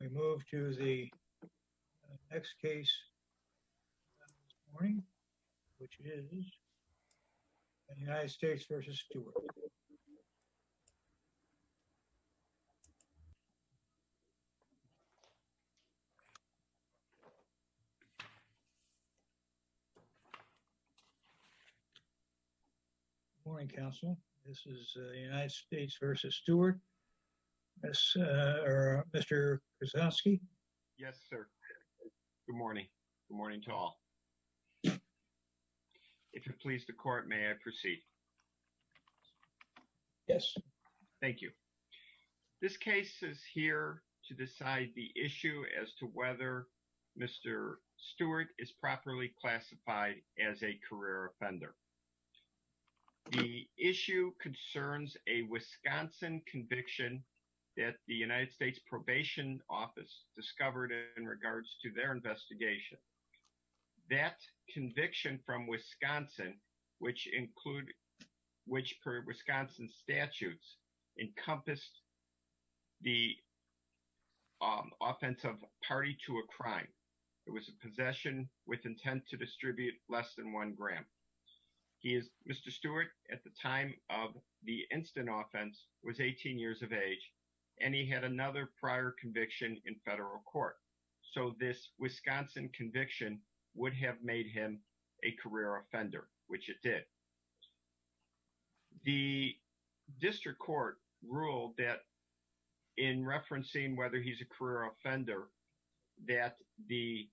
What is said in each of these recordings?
We move to the next case this morning, which is the United States v. Stewart. Good morning, counsel. This is the United States v. Stewart. Mr. Krasowski? Yes, sir. Good morning. Good morning to all. If you'll please the court, may I proceed? Yes, sir. Thank you. This case is here to decide the issue as to whether Mr. Stewart is properly classified as a career offender. The issue concerns a Wisconsin conviction that the United States Probation Office discovered in regards to their investigation. That conviction from Wisconsin, which per Wisconsin statutes encompassed the offensive party to a crime. It was a possession with intent to distribute less than one gram. He is Mr. Stewart at the time of the instant offense was 18 years of age and he had another prior conviction in federal court. So this Wisconsin conviction would have made him a career offender, which it did. The district court ruled that in referencing whether he's a career offender, that the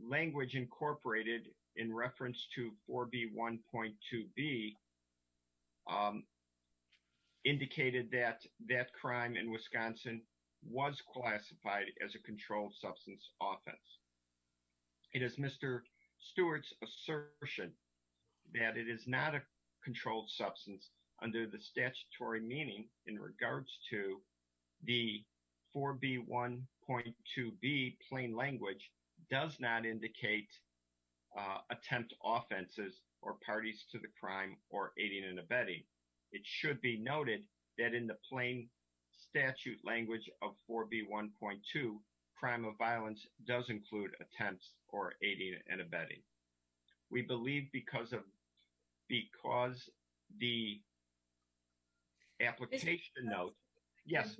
language incorporated in reference to 4B1.2B indicated that that crime in Wisconsin was classified as a controlled substance offense. It is Mr. Stewart's assertion that it is not a controlled substance under the statutory meaning in regards to the 4B1.2B plain language does not indicate attempt offenses or parties to the crime or aiding and abetting. It should be noted that in the plain statute language of 4B1.2, crime of violence does include attempts or aiding and abetting. We believe because of because the application note. Yes,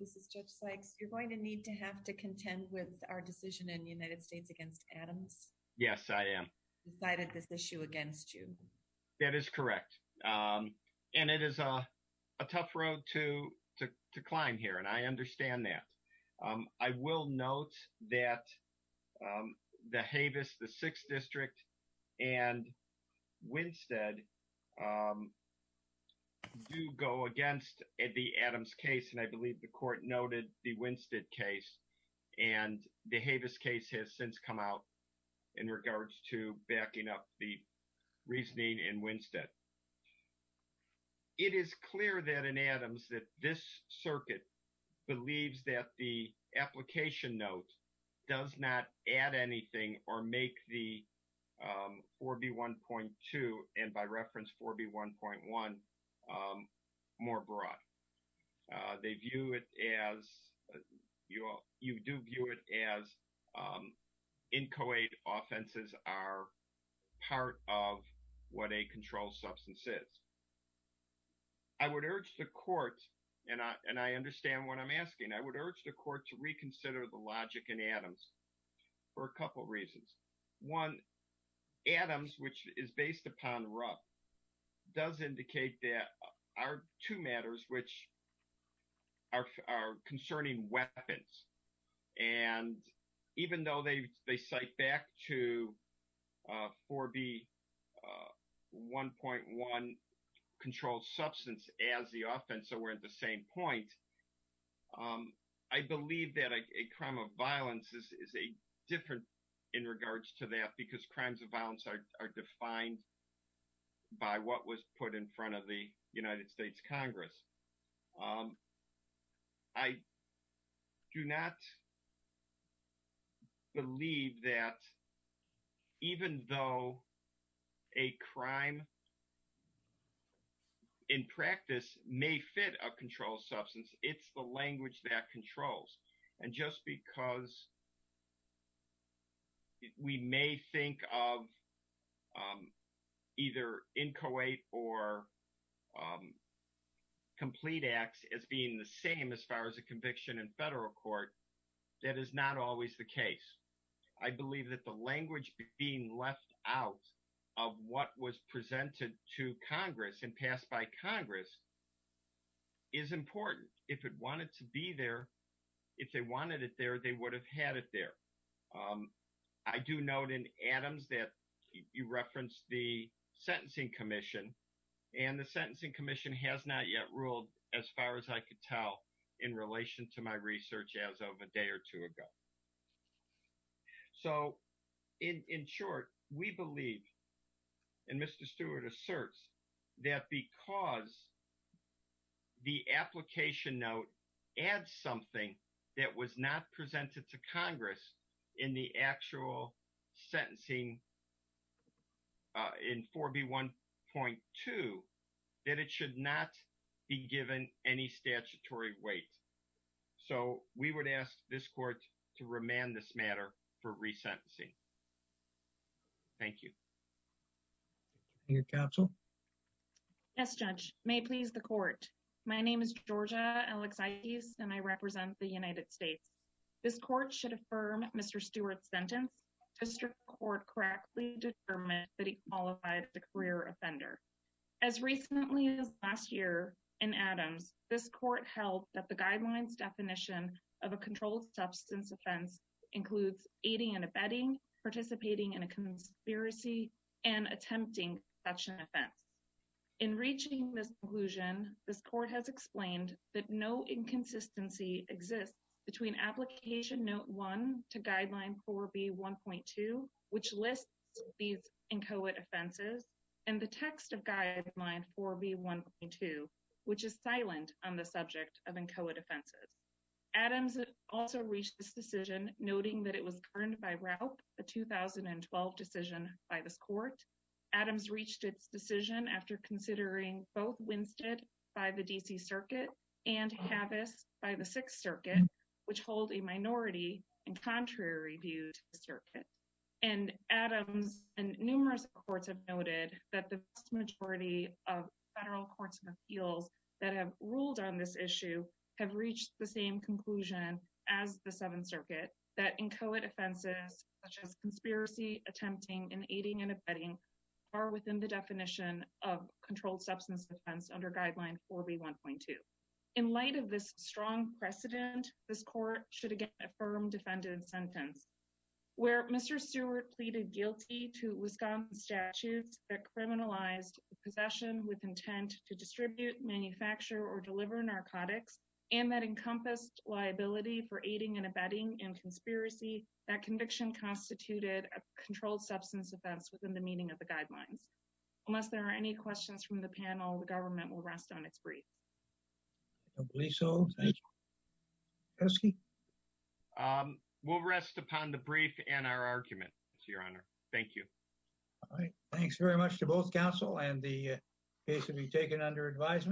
this is Judge Sykes. You're going to need to have to contend with our decision in the United States against Adams. Yes, I am. Decided this issue against you. That is correct. And it is a tough road to to to climb here. And I understand that. I will note that the Havis, the 6th District and Winstead do go against the Adams case. And I believe the court noted the Winstead case and the Havis case has since come out in regards to backing up the reasoning in Winstead. It is clear that in Adams that this circuit believes that the application note does not add anything or make the 4B1.2 and by reference 4B1.1 more broad. They view it as you do view it as inchoate offenses are part of what a controlled substance is. I would urge the court and I understand what I'm asking. I would urge the court to reconsider the logic in Adams for a couple of reasons. One, Adams, which is based upon Rupp, does indicate that are two matters which are concerning weapons. And even though they cite back to 4B1.1 controlled substance as the offense, so we're at the same point. I believe that a crime of violence is a different in regards to that because crimes of violence are defined by what was put in front of the United States Congress. I do not believe that even though a crime in practice may fit a controlled substance, it's the language that controls. And just because we may think of either inchoate or complete acts as being the same as far as a conviction in federal court, that is not always the case. I believe that the language being left out of what was presented to Congress and passed by Congress is important. If it wanted to be there, if they wanted it there, they would have had it there. I do note in Adams that you referenced the sentencing commission. And the sentencing commission has not yet ruled as far as I could tell in relation to my research as of a day or two ago. So in short, we believe, and Mr. Stewart asserts, that because the application note adds something that was not presented to Congress in the actual sentencing in 4B1.2, that it should not be given any statutory weight. So we would ask this court to remand this matter for resentencing. Thank you. Your counsel. Yes, Judge. May it please the court. My name is Georgia Alexides and I represent the United States. This court should affirm Mr. Stewart's sentence. District court correctly determined that he qualified the career offender. As recently as last year in Adams, this court held that the guidelines definition of a controlled substance offense includes aiding and abetting, participating in a conspiracy, and attempting such an offense. In reaching this conclusion, this court has explained that no inconsistency exists between application note one to guideline 4B1.2, which lists these inchoate offenses, and the text of guideline 4B1.2, which is silent on the subject of inchoate offenses. Adams also reached this decision, noting that it was confirmed by Raup, a 2012 decision by this court. Adams reached its decision after considering both Winstead by the D.C. Circuit and Havis by the Sixth Circuit, which hold a minority and contrary view to the circuit. And Adams and numerous courts have noted that the vast majority of federal courts and appeals that have ruled on this issue have reached the same conclusion as the Seventh Circuit, that inchoate offenses such as conspiracy, attempting, and aiding and abetting are within the definition of controlled substance offense under guideline 4B1.2. In light of this strong precedent, this court should again affirm defendant's sentence. Where Mr. Stewart pleaded guilty to Wisconsin statutes that criminalized possession with intent to distribute, manufacture, or deliver narcotics, and that encompassed liability for aiding and abetting in conspiracy, that conviction constituted a controlled substance offense within the meaning of the guidelines. Unless there are any questions from the panel, the government will rest on its brief. I don't believe so. Thank you. Peterski? We'll rest upon the brief and our argument, Your Honor. Thank you. All right. Thanks very much to both counsel and the case will be taken under advisement.